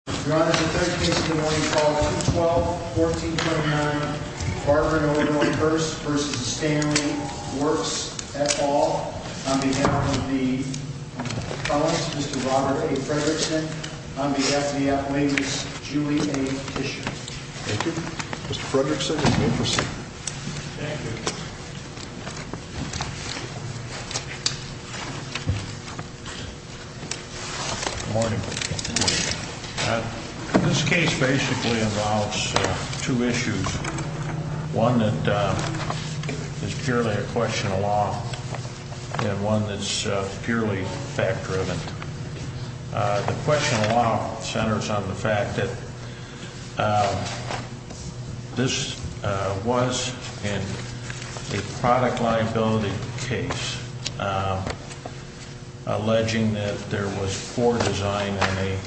on behalf of the colleagues, Mr. Robert A. Fredrickson, on behalf of the athletics, Julie A. Tischer. Thank you. Mr. Fredrickson, you may proceed. Thank you. Good morning. This case basically involves two issues, one that is purely a question of law and one that's purely fact-driven. The question of law centers on the fact that this was a product liability case alleging that there was poor design in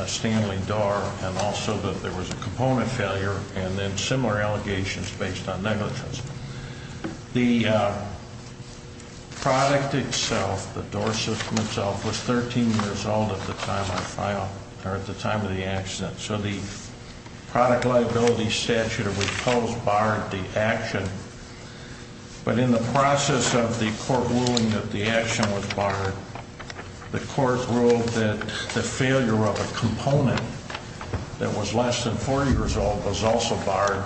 a Stanley door and also that there was a component failure and then similar allegations based on negligence. The product itself, the door system itself, was 13 years old at the time of the accident. So the product liability statute of repose barred the action. But in the process of the court ruling that the action was barred, the court ruled that the failure of a component that was less than 40 years old was also barred.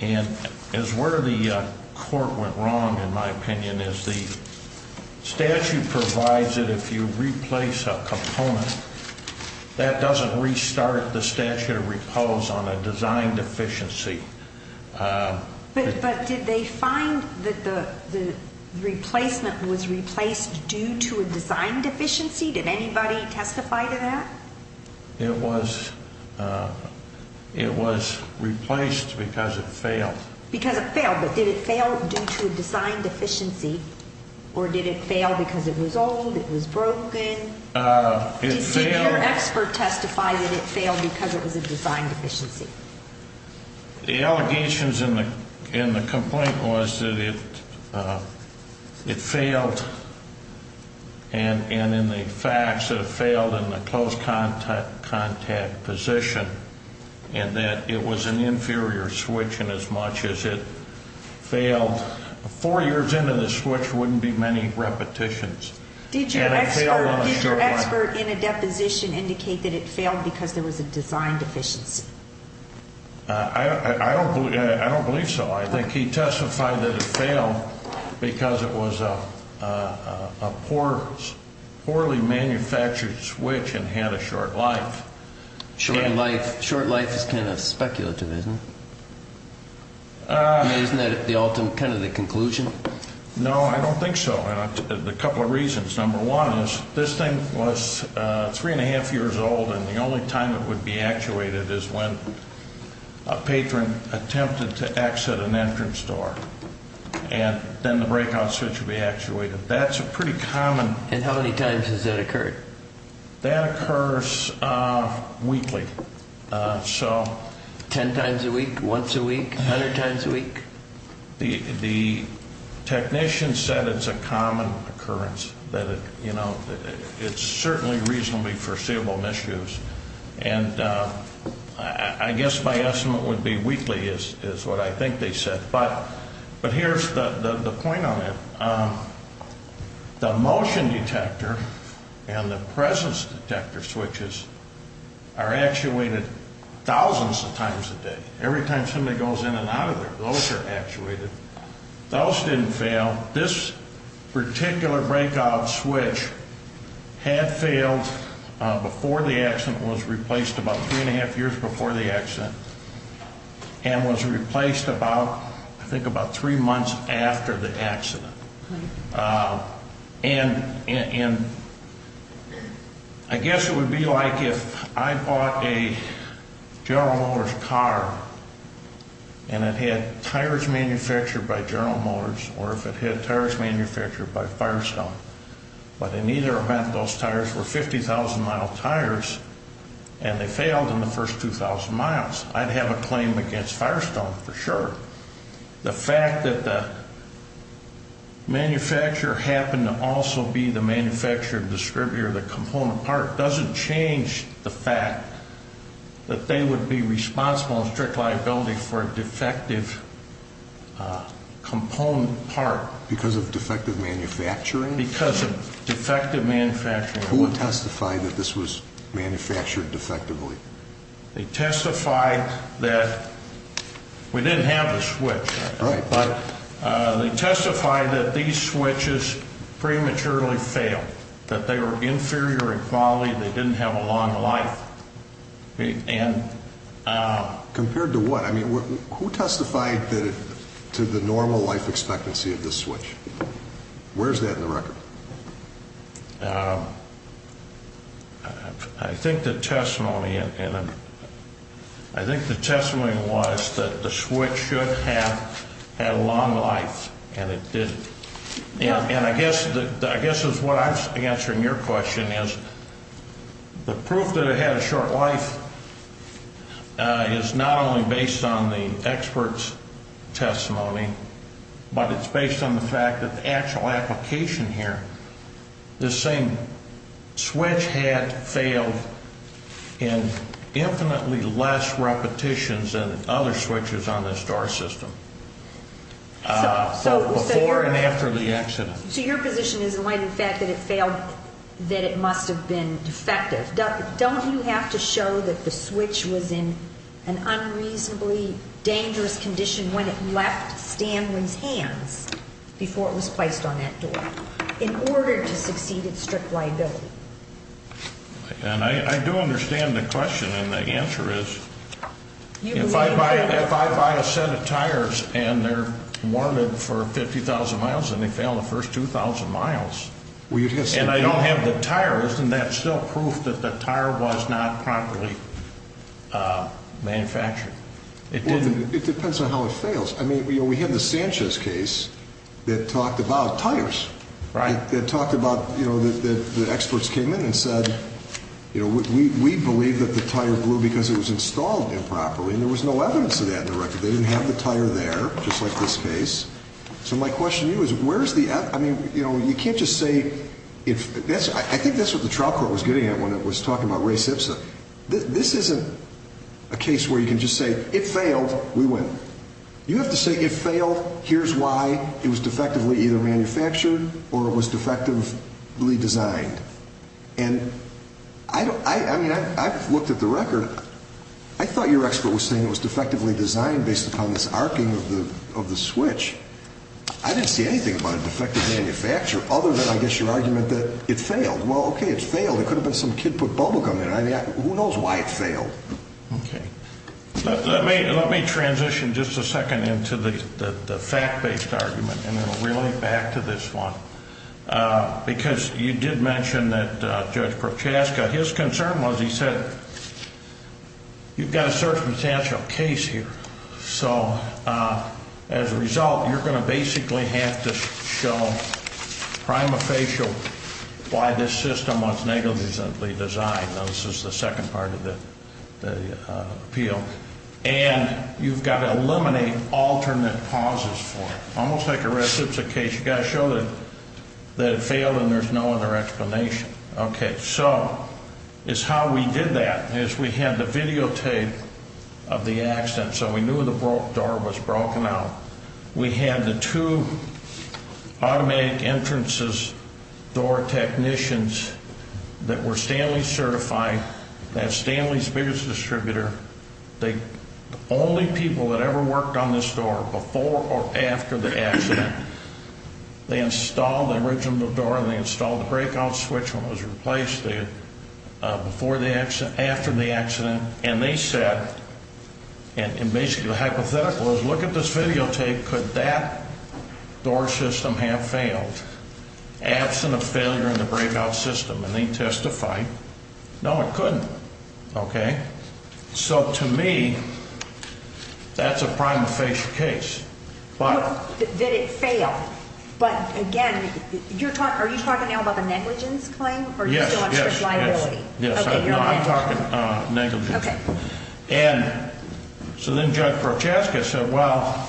And as where the court went wrong, in my opinion, is the statute provides that if you replace a component, that doesn't restart the statute of repose on a design deficiency. But did they find that the replacement was replaced due to a design deficiency? Did anybody testify to that? It was replaced because it failed. Because it failed, but did it fail due to a design deficiency or did it fail because it was old, it was broken? Did your expert testify that it failed because it was a design deficiency? The allegations in the complaint was that it failed and in the facts that it failed in the close contact position and that it was an inferior switch in as much as it failed. Four years into the switch wouldn't be many repetitions. Did your expert in a deposition indicate that it failed because there was a design deficiency? I don't believe so. I think he testified that it failed because it was a poorly manufactured switch and had a short life. Short life is kind of speculative, isn't it? Isn't that kind of the conclusion? No, I don't think so. A couple of reasons. Number one is this thing was three and a half years old and the only time it would be actuated is when a patron attempted to exit an entrance door. And then the breakout switch would be actuated. That's a pretty common... And how many times has that occurred? That occurs weekly. Ten times a week? Once a week? A hundred times a week? The technician said it's a common occurrence. It's certainly reasonably foreseeable misuse. And I guess my estimate would be weekly is what I think they said. But here's the point on it. The motion detector and the presence detector switches are actuated thousands of times a day. Every time somebody goes in and out of there, those are actuated. Those didn't fail. Now, this particular breakout switch had failed before the accident. It was replaced about three and a half years before the accident and was replaced about, I think, about three months after the accident. And I guess it would be like if I bought a General Motors car and it had tires manufactured by General Motors or if it had tires manufactured by Firestone. But in either event, those tires were 50,000 mile tires and they failed in the first 2,000 miles. I'd have a claim against Firestone for sure. The fact that the manufacturer happened to also be the manufacturer and distributor of the component part doesn't change the fact that they would be responsible in strict liability for a defective component part. Because of defective manufacturing? Because of defective manufacturing. Who would testify that this was manufactured defectively? They testified that we didn't have the switch. Right. But they testified that these switches prematurely failed, that they were inferior in quality, they didn't have a long life. Compared to what? I mean, who testified to the normal life expectancy of this switch? Where's that in the record? I think the testimony was that the switch should have had a long life and it didn't. And I guess what I'm answering your question is, the proof that it had a short life is not only based on the expert's testimony, but it's based on the fact that the actual application here, this same switch had failed in infinitely less repetitions than other switches on this door system. Before and after the accident. So your position is in light of the fact that it failed, that it must have been defective. Don't you have to show that the switch was in an unreasonably dangerous condition when it left Stanwin's hands before it was placed on that door in order to succeed in strict liability? And I do understand the question, and the answer is, if I buy a set of tires and they're warranted for 50,000 miles and they fail the first 2,000 miles, and I don't have the tires, then that's still proof that the tire was not properly manufactured. It depends on how it fails. I mean, we have the Sanchez case that talked about tires. Right. That talked about, you know, the experts came in and said, you know, we believe that the tire blew because it was installed improperly, and there was no evidence of that in the record. They didn't have the tire there, just like this case. So my question to you is, where's the – I mean, you know, you can't just say – I think that's what the trial court was getting at when it was talking about race hipster. This isn't a case where you can just say, it failed, we win. You have to say, it failed, here's why. It was defectively either manufactured or it was defectively designed. And I don't – I mean, I've looked at the record. I thought your expert was saying it was defectively designed based upon this arcing of the switch. I didn't see anything about a defective manufacture other than, I guess, your argument that it failed. Well, okay, it failed. It could have been some kid put bubble gum in it. I mean, who knows why it failed? Okay. Let me transition just a second into the fact-based argument and then really back to this one. Because you did mention that Judge Prochaska, his concern was, he said, you've got a circumstantial case here. So as a result, you're going to basically have to show prima facie why this system was negligently designed. Now, this is the second part of the appeal. And you've got to eliminate alternate pauses for it. It's almost like a reciprocation. You've got to show that it failed and there's no other explanation. Okay. So it's how we did that is we had the videotape of the accident. So we knew the door was broken out. We had the two automatic entrances, door technicians that were Stanley certified, that have Stanley's biggest distributor. The only people that ever worked on this door before or after the accident, they installed the original door and they installed the breakout switch when it was replaced there, before the accident, after the accident. And they said, and basically the hypothetical was, look at this videotape. Could that door system have failed, absent of failure in the breakout system? And they testified, no, it couldn't. Okay. So to me, that's a prima facie case. Did it fail? But, again, are you talking now about the negligence claim? Yes, yes, yes. Okay. No, I'm talking negligence. Okay. And so then Judge Prochaska said, well,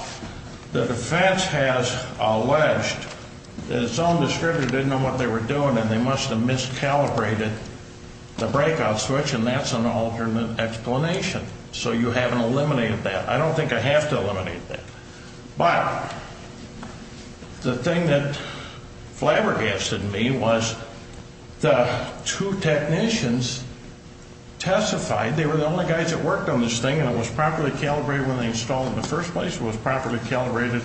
the defense has alleged that its own distributor didn't know what they were doing and they must have miscalibrated the breakout switch, and that's an alternate explanation. So you haven't eliminated that. I don't think I have to eliminate that. But the thing that flabbergasted me was the two technicians testified, they were the only guys that worked on this thing, and it was properly calibrated when they installed it in the first place, it was properly calibrated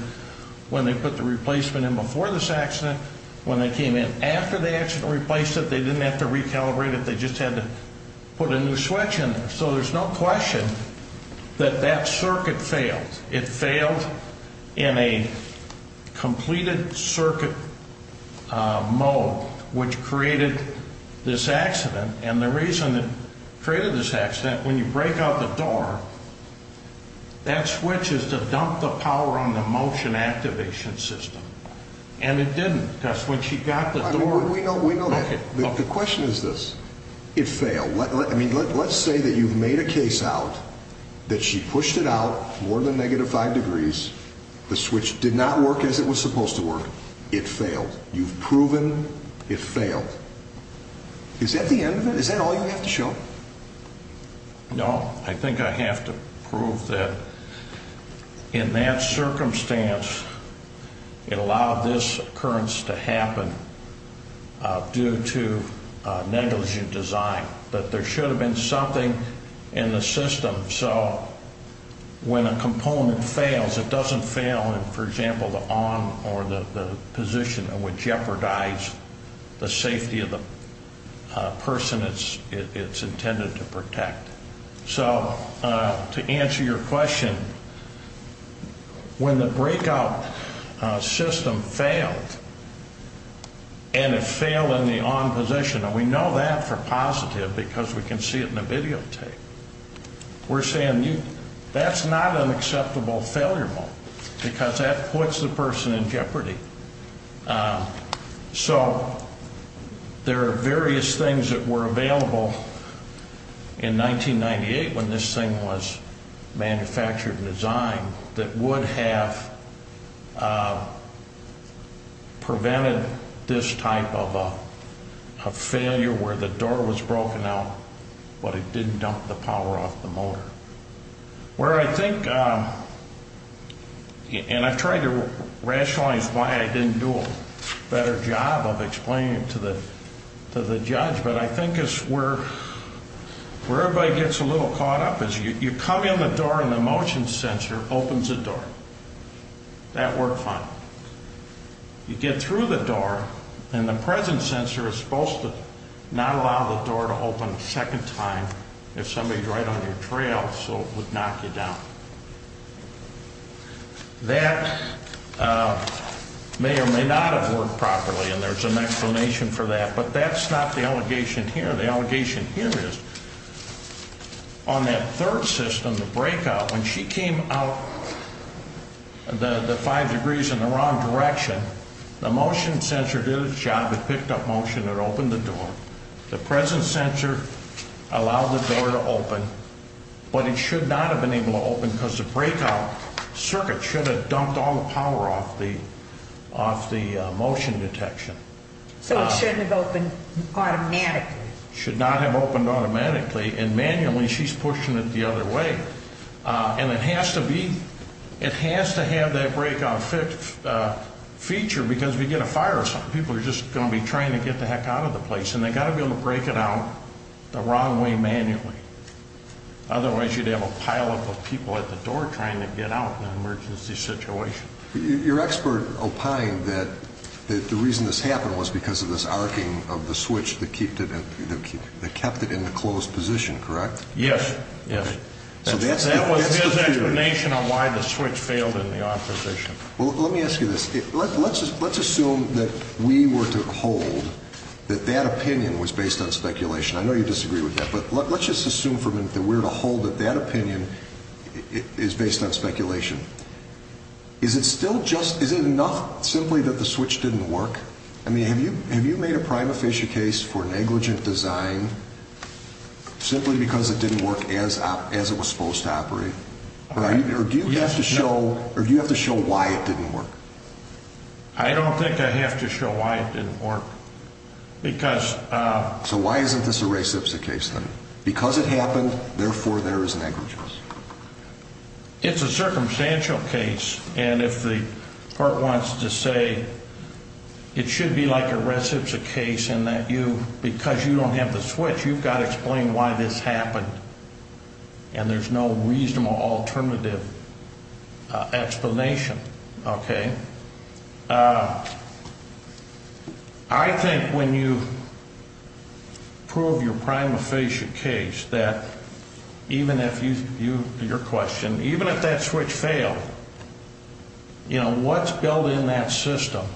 when they put the replacement in before this accident, when they came in. After they actually replaced it, they didn't have to recalibrate it, they just had to put a new switch in there. So there's no question that that circuit failed. It failed in a completed circuit mode, which created this accident. And the reason it created this accident, when you break out the door, that switch is to dump the power on the motion activation system. And it didn't. That's when she got the door. We know that. The question is this. It failed. Let's say that you've made a case out that she pushed it out more than negative 5 degrees, the switch did not work as it was supposed to work, it failed. You've proven it failed. Is that the end of it? Is that all you have to show? No. I think I have to prove that in that circumstance, it allowed this occurrence to happen due to negligent design, that there should have been something in the system. So when a component fails, it doesn't fail in, for example, the on or the position that would jeopardize the safety of the person it's intended to protect. So to answer your question, when the breakout system failed and it failed in the on position, and we know that for positive because we can see it in the videotape, we're saying that's not an acceptable failure mode because that puts the person in jeopardy. So there are various things that were available in 1998 when this thing was manufactured and designed that would have prevented this type of failure where the door was broken out, but it didn't dump the power off the motor. Where I think, and I've tried to rationalize why I didn't do a better job of explaining it to the judge, but I think it's where everybody gets a little caught up is you come in the door and the motion sensor opens the door. That worked fine. You get through the door and the present sensor is supposed to not allow the door to open a second time if somebody's right on your trail so it would knock you down. That may or may not have worked properly, and there's an explanation for that, but that's not the allegation here. The allegation here is on that third system, the breakout, when she came out the five degrees in the wrong direction, the motion sensor did its job. It picked up motion. It opened the door. The present sensor allowed the door to open, but it should not have been able to open because the breakout circuit should have dumped all the power off the motion detection. So it shouldn't have opened automatically. It should not have opened automatically, and manually she's pushing it the other way, and it has to have that breakout feature because if you get a fire or something, people are just going to be trying to get the heck out of the place, and they've got to be able to break it out the wrong way manually. Otherwise, you'd have a pileup of people at the door trying to get out in an emergency situation. Your expert opined that the reason this happened was because of this arcing of the switch that kept it in the closed position, correct? Yes. That was his explanation on why the switch failed in the opposition. Well, let me ask you this. Let's assume that we were to hold that that opinion was based on speculation. I know you disagree with that, but let's just assume for a minute that we were to hold that that opinion is based on speculation. Is it enough simply that the switch didn't work? I mean, have you made a prima facie case for negligent design simply because it didn't work as it was supposed to operate? Or do you have to show why it didn't work? I don't think I have to show why it didn't work. So why isn't this a reciprocity case then? Because it happened, therefore there is negligence. It's a circumstantial case, and if the court wants to say it should be like a reciprocity case in that because you don't have the switch, you've got to explain why this happened, and there's no reasonable alternative explanation. Okay? I think when you prove your prima facie case that even if you, your question, even if that switch failed, you know, what's built in that system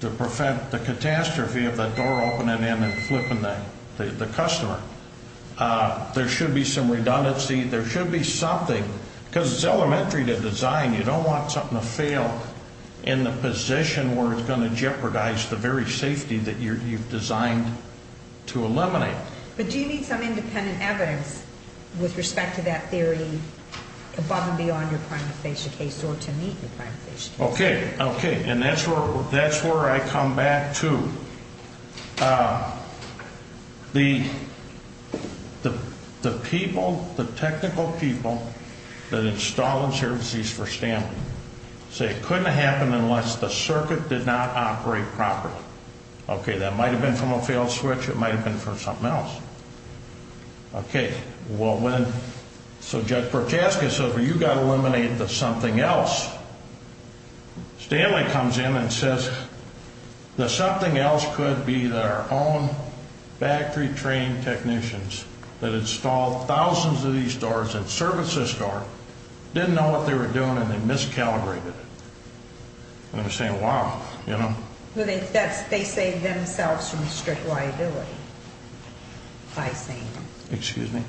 to prevent the catastrophe of that door opening and then flipping the customer, there should be some redundancy. There should be something because it's elementary to design. You don't want something to fail in the position where it's going to jeopardize the very safety that you've designed to eliminate. But do you need some independent evidence with respect to that theory above and beyond your prima facie case or to meet your prima facie case? Okay. Okay. And that's where I come back to. The people, the technical people that install the services for stamping say it couldn't have happened unless the circuit did not operate properly. Okay. That might have been from a failed switch. It might have been from something else. Okay. So Judge Prochaska says, well, you've got to eliminate the something else. Stanley comes in and says the something else could be their own factory trained technicians that installed thousands of these doors and services door, didn't know what they were doing, and they miscalibrated it. And I'm saying, wow, you know? They saved themselves from strict liability by saying that. Excuse me?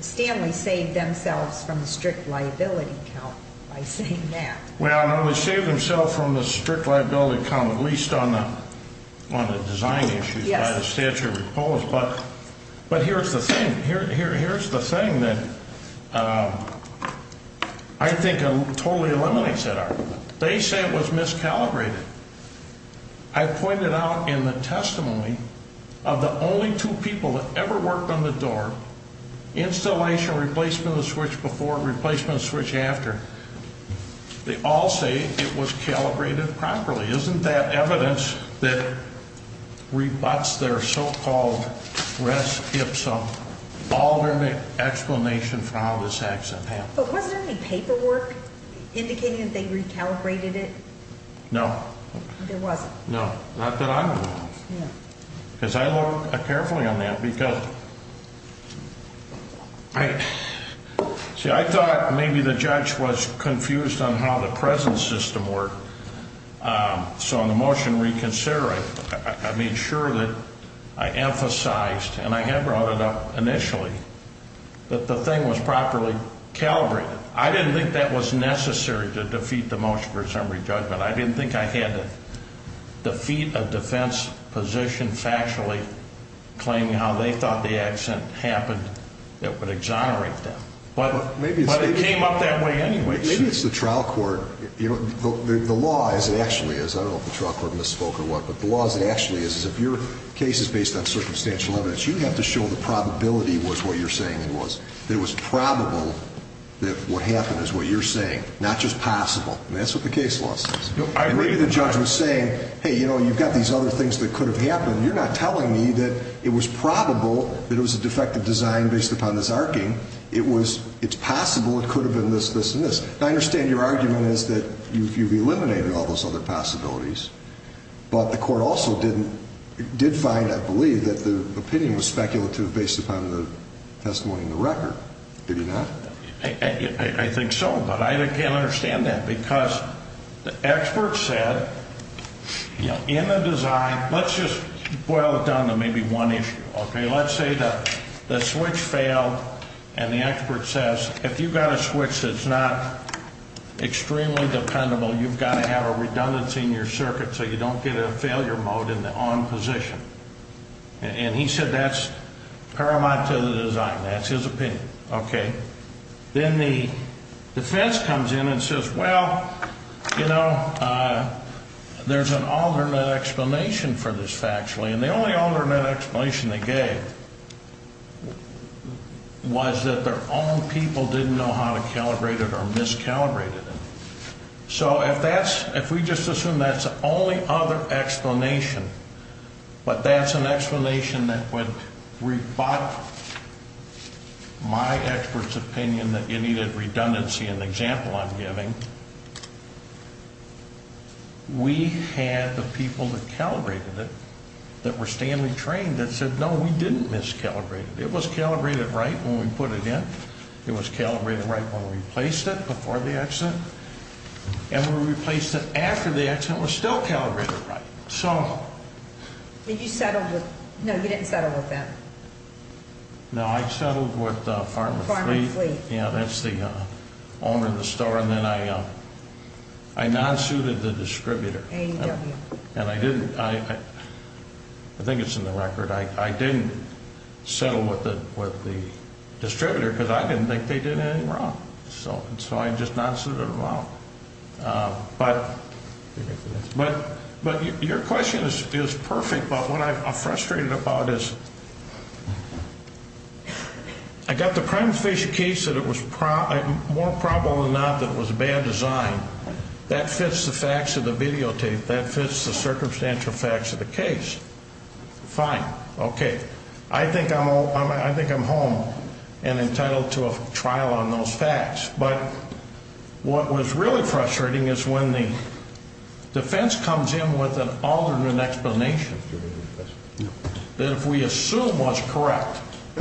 Stanley saved themselves from the strict liability count by saying that. Well, no, he saved himself from the strict liability count, at least on the design issues by the statute of repose. But here's the thing. Here's the thing that I think totally eliminates that argument. They say it was miscalibrated. I pointed out in the testimony of the only two people that ever worked on the door, installation, replacement of the switch before, replacement of the switch after, they all say it was calibrated properly. Isn't that evidence that rebuts their so-called res ipsum, alternate explanation for how this accident happened? But wasn't there any paperwork indicating that they recalibrated it? No. There wasn't. No. Not that I know of. No. Because I looked carefully on that because I thought maybe the judge was confused on how the present system worked. So in the motion reconsider, I made sure that I emphasized, and I had brought it up initially, that the thing was properly calibrated. But I didn't think that was necessary to defeat the motion for assembly judgment. I didn't think I had to defeat a defense position factually claiming how they thought the accident happened that would exonerate them. But it came up that way anyway. Maybe it's the trial court. The law, as it actually is, I don't know if the trial court misspoke or what, but the law, as it actually is, is if your case is based on circumstantial evidence, you have to show the probability was what you're saying it was. It was probable that what happened is what you're saying, not just possible. That's what the case law says. Maybe the judge was saying, hey, you know, you've got these other things that could have happened. You're not telling me that it was probable that it was a defective design based upon this arcing. It's possible it could have been this, this, and this. I understand your argument is that you've eliminated all those other possibilities, but the court also did find, I believe, that the opinion was speculative based upon the testimony in the record, did it not? I think so, but I can't understand that because the expert said in the design, let's just boil it down to maybe one issue, okay? Let's say the switch failed, and the expert says, if you've got a switch that's not extremely dependable, you've got to have a redundancy in your circuit so you don't get a failure mode in the on position. And he said that's paramount to the design. That's his opinion, okay? Then the defense comes in and says, well, you know, there's an alternate explanation for this factually, and the only alternate explanation they gave was that their own people didn't know how to calibrate it or miscalibrate it. So if we just assume that's the only other explanation, but that's an explanation that would rebut my expert's opinion that you needed redundancy in the example I'm giving, we had the people that calibrated it that were standing trained that said, no, we didn't miscalibrate it. It was calibrated right when we put it in. It was calibrated right when we placed it before the accident. And when we replaced it after the accident, it was still calibrated right. So. Did you settle with, no, you didn't settle with them. No, I settled with Pharma Fleet. Pharma Fleet. Yeah, that's the owner of the store. And then I non-suited the distributor. AEW. And I didn't, I think it's in the record, I didn't settle with the distributor because I didn't think they did anything wrong. So I just non-suited them out. But your question is perfect, but what I'm frustrated about is, I got the prima facie case that it was more probable than not that it was a bad design. That fits the facts of the videotape. That fits the circumstantial facts of the case. Fine. Okay. I think I'm home and entitled to a trial on those facts. But what was really frustrating is when the defense comes in with an alternate explanation. That if we assume what's correct.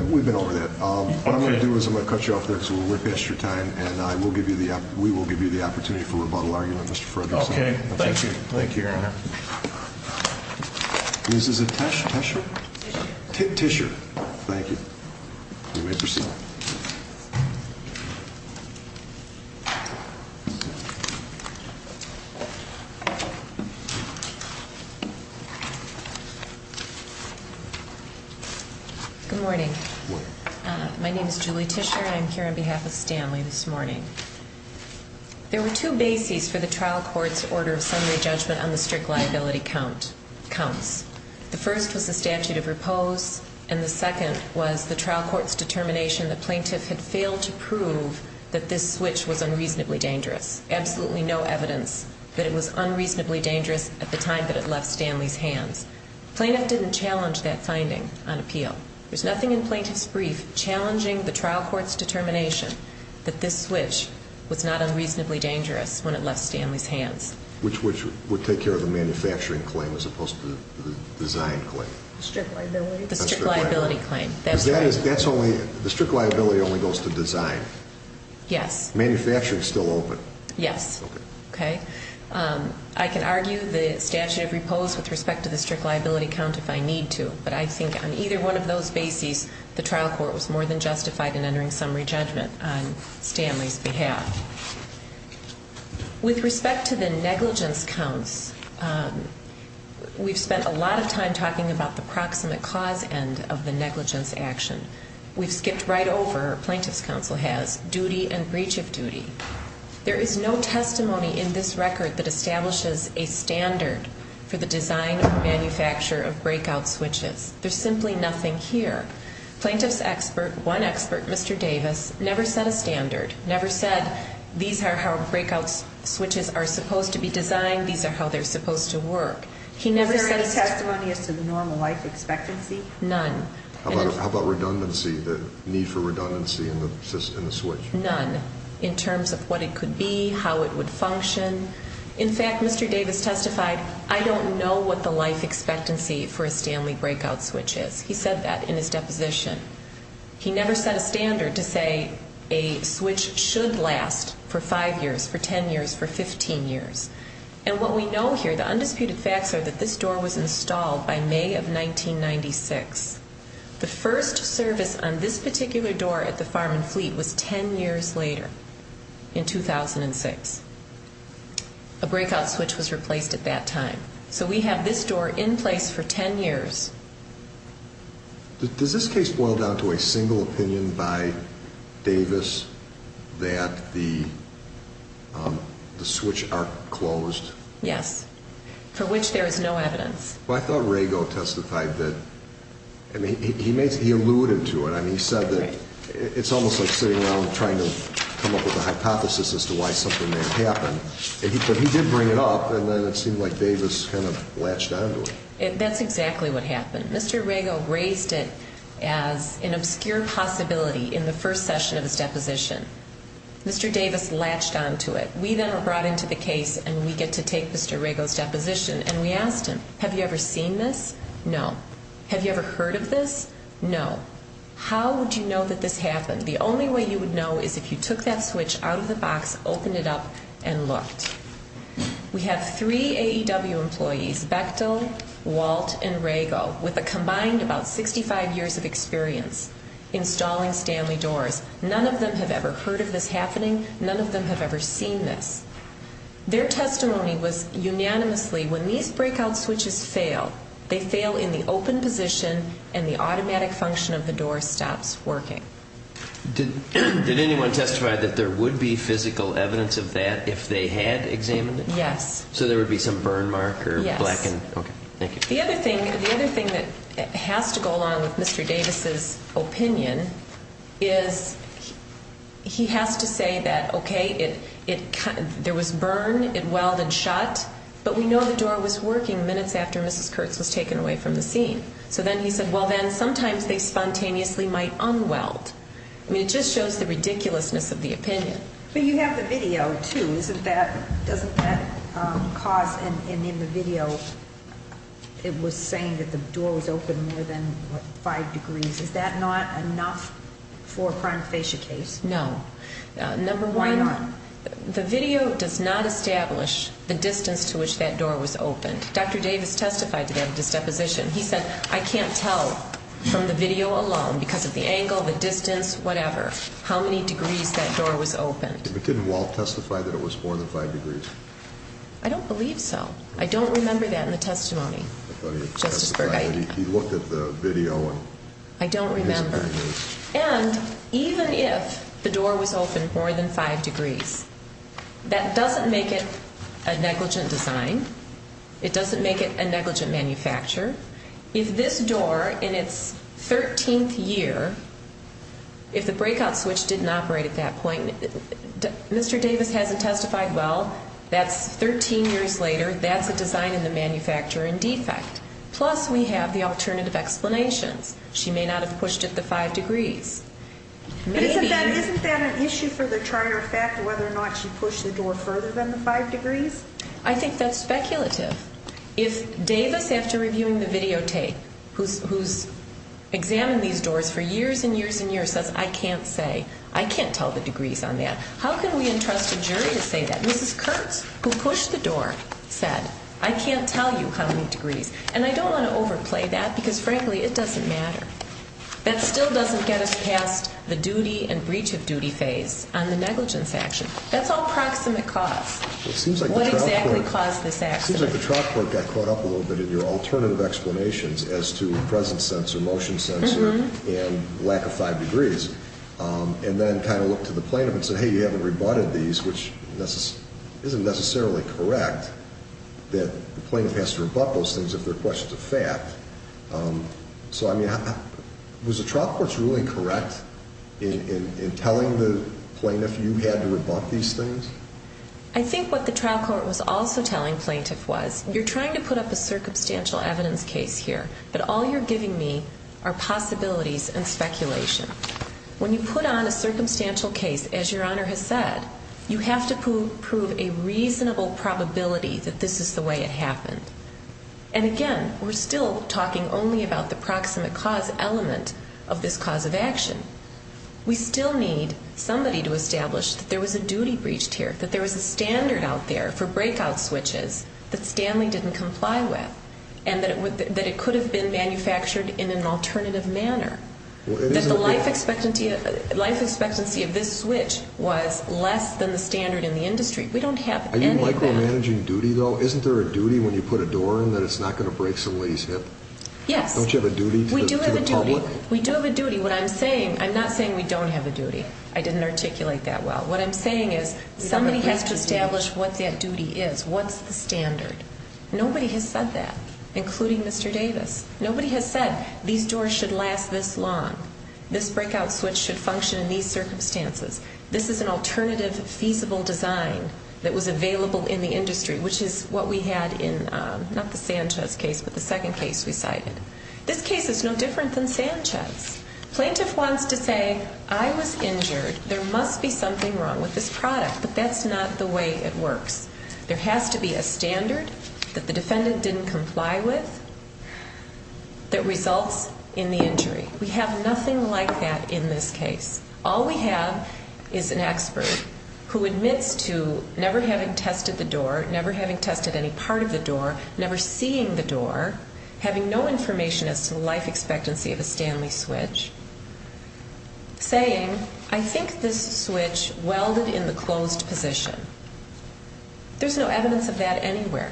We've been over that. What I'm going to do is I'm going to cut you off there because we're way past your time. And we will give you the opportunity for rebuttal argument, Mr. Frederickson. Okay. Thank you. Thank you, Your Honor. Mrs. Tesher? Tesher. Thank you. You may proceed. Good morning. Good morning. My name is Julie Tesher and I'm here on behalf of Stanley this morning. There were two bases for the trial court's order of summary judgment on the strict liability counts. The first was the statute of repose and the second was the trial court's determination that plaintiff had failed to prove that this switch was unreasonably dangerous. Absolutely no evidence that it was unreasonably dangerous at the time that it left Stanley's hands. Plaintiff didn't challenge that finding on appeal. There's nothing in plaintiff's brief challenging the trial court's determination that this switch was not unreasonably dangerous when it left Stanley's hands. Which would take care of the manufacturing claim as opposed to the design claim? The strict liability claim. The strict liability claim. That's right. The strict liability only goes to design. Yes. Manufacturing is still open. Yes. Okay. I can argue the statute of repose with respect to the strict liability count if I need to, but I think on either one of those bases the trial court was more than justified in entering summary judgment on Stanley's behalf. With respect to the negligence counts, we've spent a lot of time talking about the proximate cause end of the negligence action. We've skipped right over, plaintiff's counsel has, duty and breach of duty. There is no testimony in this record that establishes a standard for the design and manufacture of breakout switches. There's simply nothing here. Plaintiff's expert, one expert, Mr. Davis, never set a standard, never said these are how breakout switches are supposed to be designed, these are how they're supposed to work. Is there any testimony as to the normal life expectancy? None. How about redundancy, the need for redundancy in the switch? None. In terms of what it could be, how it would function. In fact, Mr. Davis testified, I don't know what the life expectancy for a Stanley breakout switch is. He said that in his deposition. He never set a standard to say a switch should last for five years, for 10 years, for 15 years. And what we know here, the undisputed facts are that this door was installed by May of 1996. The first service on this particular door at the Farm and Fleet was 10 years later, in 2006. A breakout switch was replaced at that time. So we have this door in place for 10 years. Does this case boil down to a single opinion by Davis that the switch are closed? Yes. For which there is no evidence. Well, I thought Rago testified that, I mean, he alluded to it. I mean, he said that it's almost like sitting around trying to come up with a hypothesis as to why something may have happened. But he did bring it up, and then it seemed like Davis kind of latched onto it. That's exactly what happened. Mr. Rago raised it as an obscure possibility in the first session of his deposition. Mr. Davis latched onto it. We then were brought into the case, and we get to take Mr. Rago's deposition. And we asked him, have you ever seen this? No. Have you ever heard of this? No. How would you know that this happened? The only way you would know is if you took that switch out of the box, opened it up, and looked. We have three AEW employees, Bechtel, Walt, and Rago, with a combined about 65 years of experience installing Stanley doors. None of them have ever heard of this happening. None of them have ever seen this. Their testimony was unanimously, when these breakout switches fail, they fail in the open position, and the automatic function of the door stops working. Did anyone testify that there would be physical evidence of that if they had examined it? Yes. So there would be some burn mark or blackened? Yes. Okay, thank you. The other thing that has to go along with Mr. Davis' opinion is he has to say that, okay, there was burn, it welded shut, but we know the door was working minutes after Mrs. Kurtz was taken away from the scene. So then he said, well, then, sometimes they spontaneously might un-weld. I mean, it just shows the ridiculousness of the opinion. But you have the video, too. Doesn't that cause, and in the video, it was saying that the door was open more than five degrees. Is that not enough for a prion of fascia case? No. Why not? Number one, the video does not establish the distance to which that door was opened. Dr. Davis testified to that at his deposition. He said, I can't tell from the video alone because of the angle, the distance, whatever, how many degrees that door was open. But didn't Walt testify that it was more than five degrees? I don't believe so. I don't remember that in the testimony. I thought he looked at the video. I don't remember. And even if the door was open more than five degrees, that doesn't make it a negligent design. It doesn't make it a negligent manufacture. If this door, in its 13th year, if the breakout switch didn't operate at that point, Mr. Davis hasn't testified, well, that's 13 years later, that's a design in the manufacture in defect. Plus, we have the alternative explanations. She may not have pushed it to five degrees. Maybe. But isn't that an issue for the charter of fact, whether or not she pushed the door further than the five degrees? I think that's speculative. If Davis, after reviewing the videotape, who's examined these doors for years and years and years, says, I can't say, I can't tell the degrees on that, how can we entrust a jury to say that? Mrs. Kurtz, who pushed the door, said, I can't tell you how many degrees. And I don't want to overplay that because, frankly, it doesn't matter. That still doesn't get us past the duty and breach of duty phase on the negligence action. That's all proximate cause. What exactly caused this accident? It seems like the trial court got caught up a little bit in your alternative explanations as to the presence sensor, motion sensor, and lack of five degrees. And then kind of looked to the plaintiff and said, hey, you haven't rebutted these, which isn't necessarily correct, that the plaintiff has to rebut those things if they're questions of fact. So, I mean, was the trial court's ruling correct in telling the plaintiff you had to rebut these things? I think what the trial court was also telling plaintiff was, you're trying to put up a circumstantial evidence case here, but all you're giving me are possibilities and speculation. When you put on a circumstantial case, as Your Honor has said, you have to prove a reasonable probability that this is the way it happened. And again, we're still talking only about the proximate cause element of this cause of action. We still need somebody to establish that there was a duty breached here, that there was a standard out there for breakout switches that Stanley didn't comply with, and that it could have been manufactured in an alternative manner. That the life expectancy of this switch was less than the standard in the industry. We don't have any of that. Are you micromanaging duty, though? Isn't there a duty when you put a door in that it's not going to break somebody's hip? Yes. Don't you have a duty to the public? We do have a duty. We do have a duty. What I'm saying, I'm not saying we don't have a duty. I didn't articulate that well. What I'm saying is somebody has to establish what that duty is, what's the standard. Nobody has said that, including Mr. Davis. Nobody has said these doors should last this long, this breakout switch should function in these circumstances. This is an alternative feasible design that was available in the industry, which is what we had in not the Sanchez case, but the second case we cited. This case is no different than Sanchez. Plaintiff wants to say, I was injured, there must be something wrong with this product, but that's not the way it works. There has to be a standard that the defendant didn't comply with that results in the injury. We have nothing like that in this case. All we have is an expert who admits to never having tested the door, never having tested any part of the door, never seeing the door, having no information as to the life expectancy of a Stanley switch, saying, I think this switch welded in the closed position. There's no evidence of that anywhere.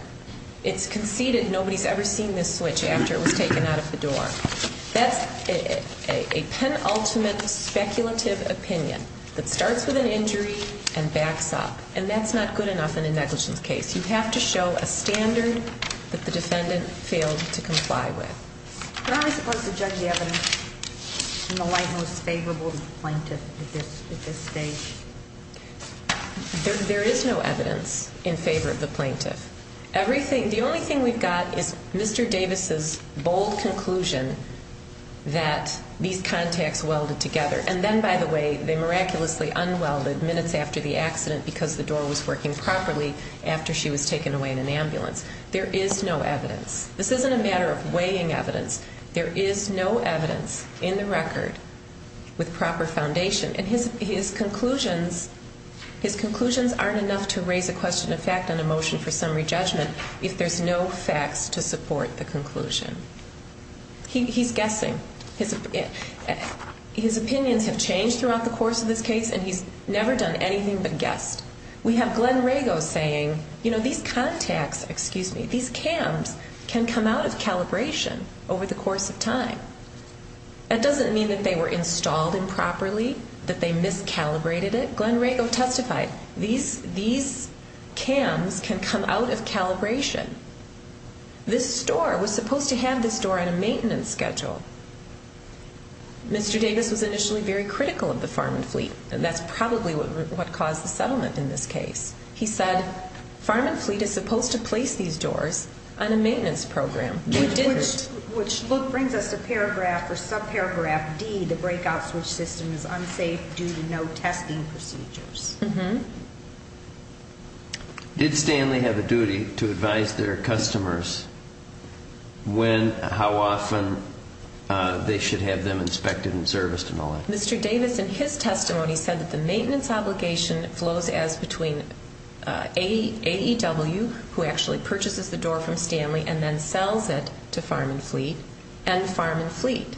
It's conceded nobody's ever seen this switch after it was taken out of the door. That's a penultimate speculative opinion that starts with an injury and backs up. And that's not good enough in a negligence case. You have to show a standard that the defendant failed to comply with. You're only supposed to judge the evidence in the light most favorable to the plaintiff at this stage. There is no evidence in favor of the plaintiff. The only thing we've got is Mr. Davis's bold conclusion that these contacts welded together. And then, by the way, they miraculously unwelded minutes after the accident because the door was working properly after she was taken away in an ambulance. There is no evidence. This isn't a matter of weighing evidence. There is no evidence in the record with proper foundation. And his conclusions aren't enough to raise a question of fact on a motion for summary judgment if there's no facts to support the conclusion. He's guessing. His opinions have changed throughout the course of this case, and he's never done anything but guessed. We have Glenn Rago saying, you know, these contacts, excuse me, these cams can come out of calibration over the course of time. That doesn't mean that they were installed improperly, that they miscalibrated it. Glenn Rago testified, these cams can come out of calibration. This store was supposed to have this door on a maintenance schedule. Mr. Davis was initially very critical of the Farm and Fleet, and that's probably what caused the settlement in this case. He said, Farm and Fleet is supposed to place these doors on a maintenance program. Which brings us to paragraph or subparagraph D, the breakout switch system is unsafe due to no testing procedures. Did Stanley have a duty to advise their customers when, how often they should have them inspected and serviced and all that? Mr. Davis, in his testimony, said that the maintenance obligation flows as between AEW, who actually purchases the door from Stanley and then sells it to Farm and Fleet, and Farm and Fleet.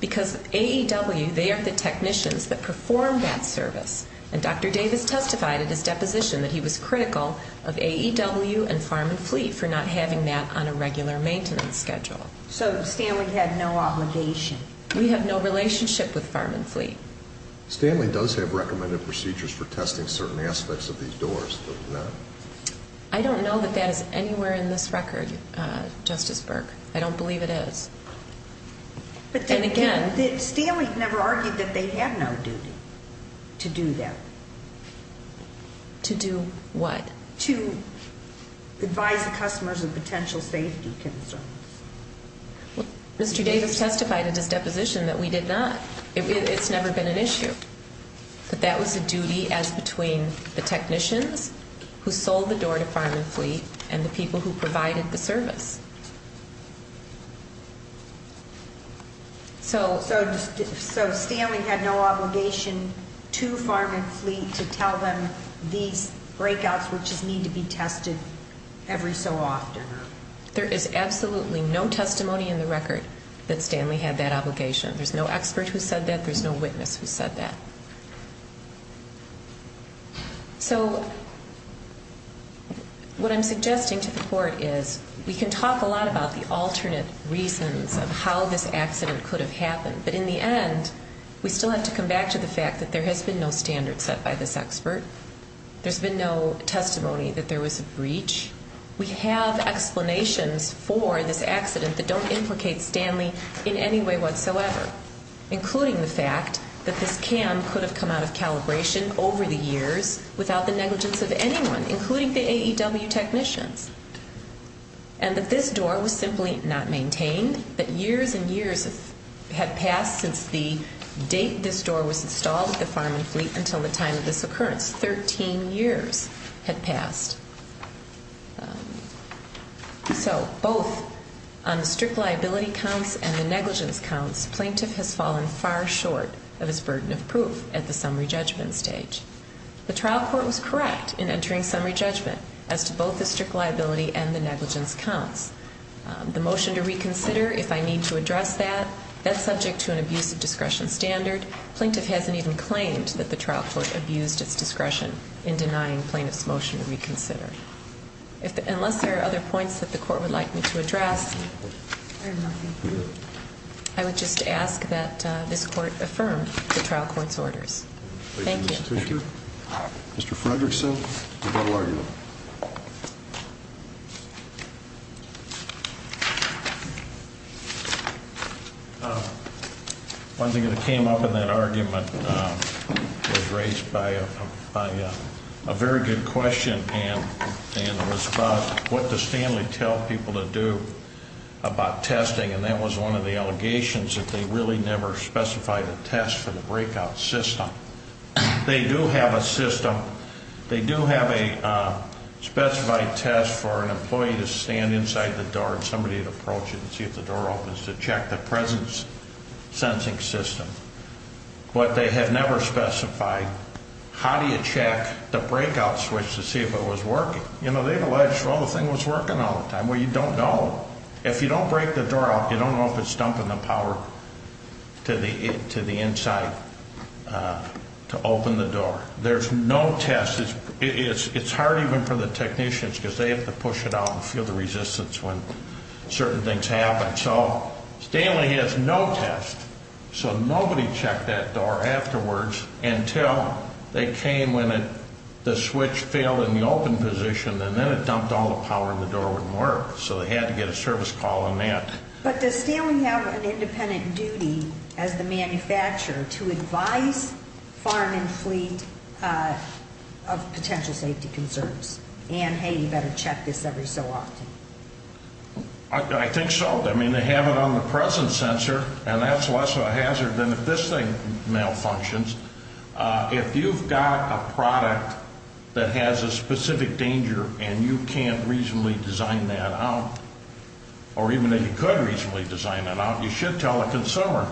Because AEW, they are the technicians that perform that service. And Dr. Davis testified at his deposition that he was critical of AEW and Farm and Fleet for not having that on a regular maintenance schedule. So Stanley had no obligation? We have no relationship with Farm and Fleet. Stanley does have recommended procedures for testing certain aspects of these doors, but not- I don't know that that is anywhere in this record, Justice Burke. I don't believe it is. And again- But Stanley never argued that they had no duty to do that. To do what? To advise the customers of potential safety concerns. Mr. Davis testified at his deposition that we did not. It's never been an issue. But that was a duty as between the technicians who sold the door to Farm and Fleet and the people who provided the service. So Stanley had no obligation to Farm and Fleet to tell them these breakouts would just need to be tested every so often? There is absolutely no testimony in the record that Stanley had that obligation. There's no expert who said that. There's no witness who said that. So what I'm suggesting to the Court is we can talk a lot about the alternate reasons of how this accident could have happened. But in the end, we still have to come back to the fact that there has been no standard set by this expert. There's been no testimony that there was a breach. We have explanations for this accident that don't implicate Stanley in any way whatsoever, including the fact that this cam could have come out of calibration over the years without the negligence of anyone, including the AEW technicians, and that this door was simply not maintained, that years and years had passed since the date this door was installed at Farm and Fleet until the time of this occurrence. Thirteen years had passed. So both on the strict liability counts and the negligence counts, plaintiff has fallen far short of his burden of proof at the summary judgment stage. The trial court was correct in entering summary judgment as to both the strict liability and the negligence counts. The motion to reconsider, if I need to address that, that's subject to an abusive discretion standard. Plaintiff hasn't even claimed that the trial court abused its discretion in denying plaintiff's motion to reconsider. Unless there are other points that the court would like me to address, I would just ask that this court affirm the trial court's orders. Thank you. Mr. Fredrickson, your final argument. One thing that came up in that argument was raised by a very good question, and it was about what does Stanley tell people to do about testing, and that was one of the allegations that they really never specified a test for the breakout system. They do have a system. They do have a specified test for an employee to stand inside the door and somebody to approach it and see if the door opens to check the presence-sensing system, but they have never specified how do you check the breakout switch to see if it was working. You know, they've alleged, well, the thing was working all the time. Well, you don't know. If you don't break the door out, you don't know if it's dumping the power to the inside to open the door. There's no test. It's hard even for the technicians because they have to push it out and feel the resistance when certain things happen. So Stanley has no test. So nobody checked that door afterwards until they came when the switch failed in the open position, and then it dumped all the power and the door wouldn't work. So they had to get a service call on that. But does Stanley have an independent duty as the manufacturer to advise farm and fleet of potential safety concerns? And, hey, you better check this every so often. I think so. I mean, they have it on the presence sensor, and that's less of a hazard than if this thing malfunctions. If you've got a product that has a specific danger and you can't reasonably design that out, or even that you could reasonably design that out, you should tell a consumer.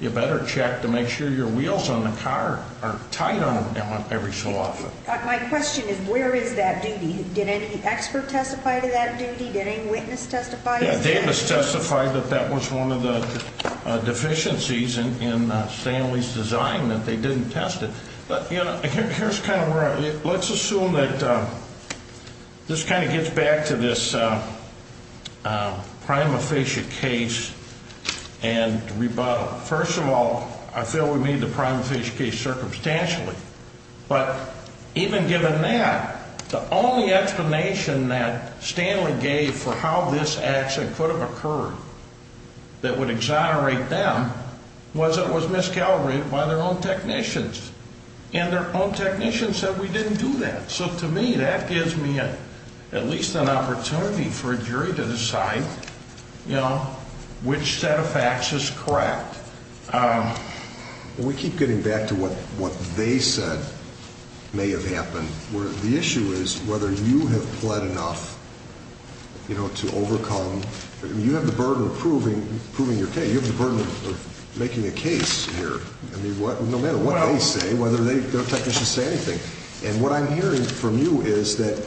You better check to make sure your wheels on the car are tight on them every so often. My question is where is that duty? Did any expert testify to that duty? Did any witness testify? Yeah, Davis testified that that was one of the deficiencies in Stanley's design, that they didn't test it. But, you know, here's kind of where I'm at. Let's assume that this kind of gets back to this prima facie case and rebuttal. First of all, I feel we made the prima facie case circumstantially. But even given that, the only explanation that Stanley gave for how this accident could have occurred that would exonerate them was it was miscalibrated by their own technicians, and their own technicians said we didn't do that. So, to me, that gives me at least an opportunity for a jury to decide, you know, which set of facts is correct. We keep getting back to what they said may have happened. The issue is whether you have pled enough, you know, to overcome. You have the burden of proving your case. You have the burden of making a case here. I mean, no matter what they say, whether their technicians say anything. And what I'm hearing from you is that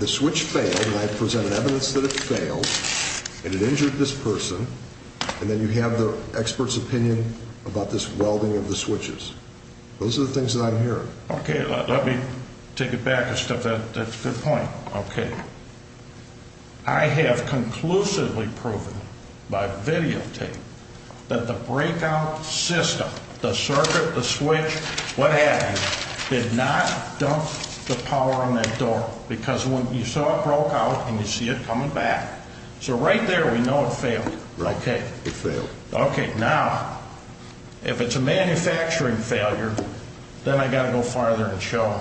the switch failed, and I presented evidence that it failed, and it injured this person. And then you have the expert's opinion about this welding of the switches. Those are the things that I'm hearing. Okay, let me take it back and stuff that. That's a good point. Okay. I have conclusively proven by videotape that the breakout system, the circuit, the switch, what happened, did not dump the power on that door. Because when you saw it broke out and you see it coming back. So right there we know it failed. Right. Okay. It failed. Okay. Now, if it's a manufacturing failure, then I've got to go farther and show,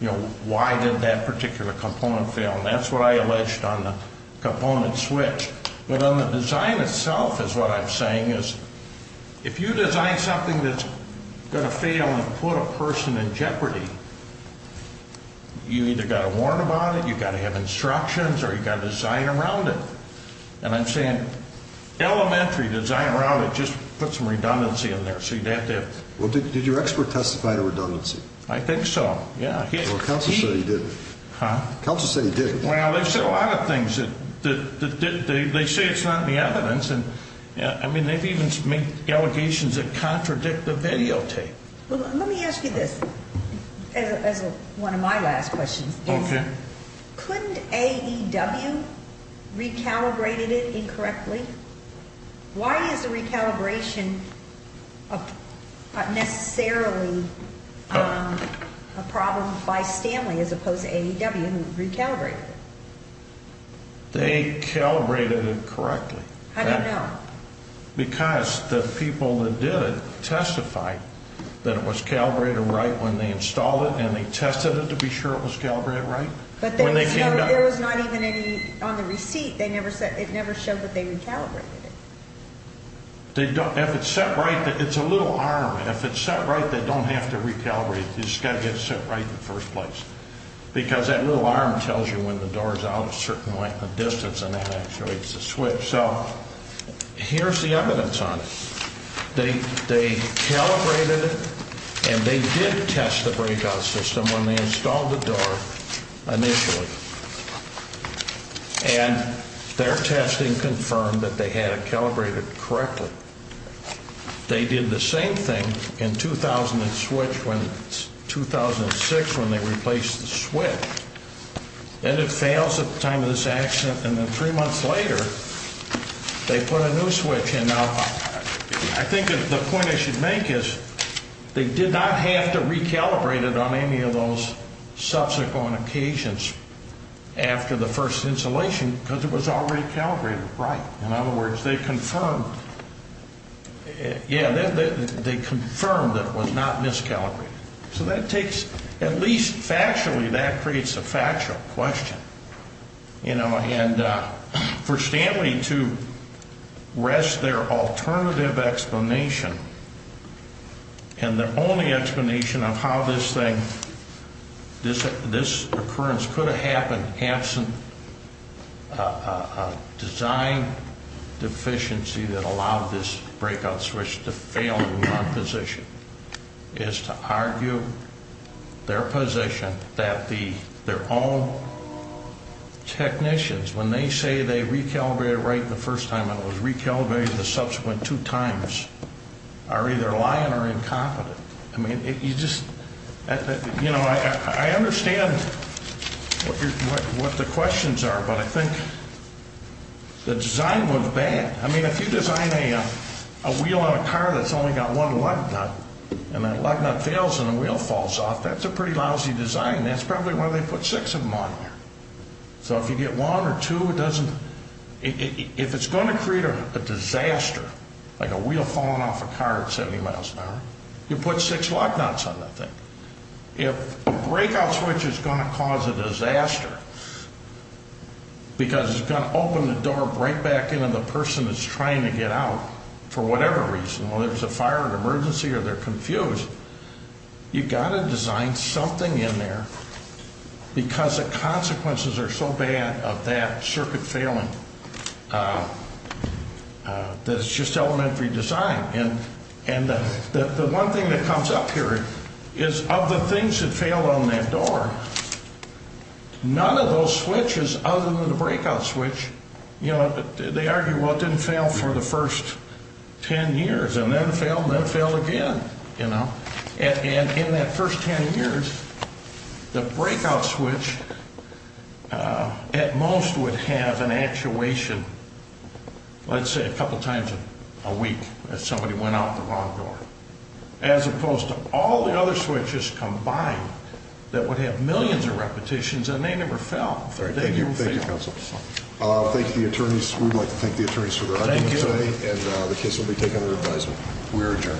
you know, why did that particular component fail? And that's what I alleged on the component switch. But on the design itself is what I'm saying is if you design something that's going to fail and put a person in jeopardy, you either got to warn about it, you've got to have instructions, or you've got to design around it. And I'm saying elementary design around it. Just put some redundancy in there so you don't have to. Well, did your expert testify to redundancy? I think so. Yeah. Well, counsel said he did. Huh? Counsel said he did. Well, they've said a lot of things. They say it's not in the evidence. I mean, they've even made allegations that contradict the videotape. Let me ask you this as one of my last questions. Okay. Couldn't AEW recalibrate it incorrectly? Why is the recalibration not necessarily a problem by Stanley as opposed to AEW who recalibrated it? They calibrated it correctly. How do you know? Because the people that did it testified that it was calibrated right when they installed it, and they tested it to be sure it was calibrated right. But there was not even any on the receipt. It never showed that they recalibrated it. If it's set right, it's a little arm. And if it's set right, they don't have to recalibrate it. You just got to get it set right in the first place. Because that little arm tells you when the door is out a certain distance, and that activates the switch. So here's the evidence on it. They calibrated it, and they did test the breakout system when they installed the door initially. And their testing confirmed that they had it calibrated correctly. They did the same thing in 2006 when they replaced the switch, and it fails at the time of this accident. And then three months later, they put a new switch in. Now, I think the point I should make is they did not have to recalibrate it on any of those subsequent occasions after the first installation because it was already calibrated right. In other words, they confirmed that it was not miscalibrated. So that takes, at least factually, that creates a factual question. And for Stanley to rest their alternative explanation, and the only explanation of how this thing, this occurrence could have happened absent a design deficiency that allowed this breakout switch to fail in that position, is to argue their position that their own technicians, when they say they recalibrated it right the first time and it was recalibrated the subsequent two times, are either lying or incompetent. I mean, you just, you know, I understand what the questions are, but I think the design was bad. I mean, if you design a wheel on a car that's only got one lug nut, and that lug nut fails and the wheel falls off, that's a pretty lousy design. That's probably why they put six of them on there. So if you get one or two, it doesn't, if it's going to create a disaster, like a wheel falling off a car at 70 miles an hour, you put six lug nuts on that thing. If a breakout switch is going to cause a disaster, because it's going to open the door right back in and the person is trying to get out, for whatever reason, whether it's a fire or an emergency or they're confused, you've got to design something in there because the consequences are so bad of that circuit failing that it's just elementary design. And the one thing that comes up here is of the things that fail on that door, none of those switches other than the breakout switch, you know, and in that first 10 years, the breakout switch at most would have an actuation, let's say, a couple times a week if somebody went out the wrong door, as opposed to all the other switches combined that would have millions of repetitions and they never fell. Thank you, counsel. Thank you to the attorneys. We'd like to thank the attorneys for their audience today, and the case will be taken under advisement. We're adjourned.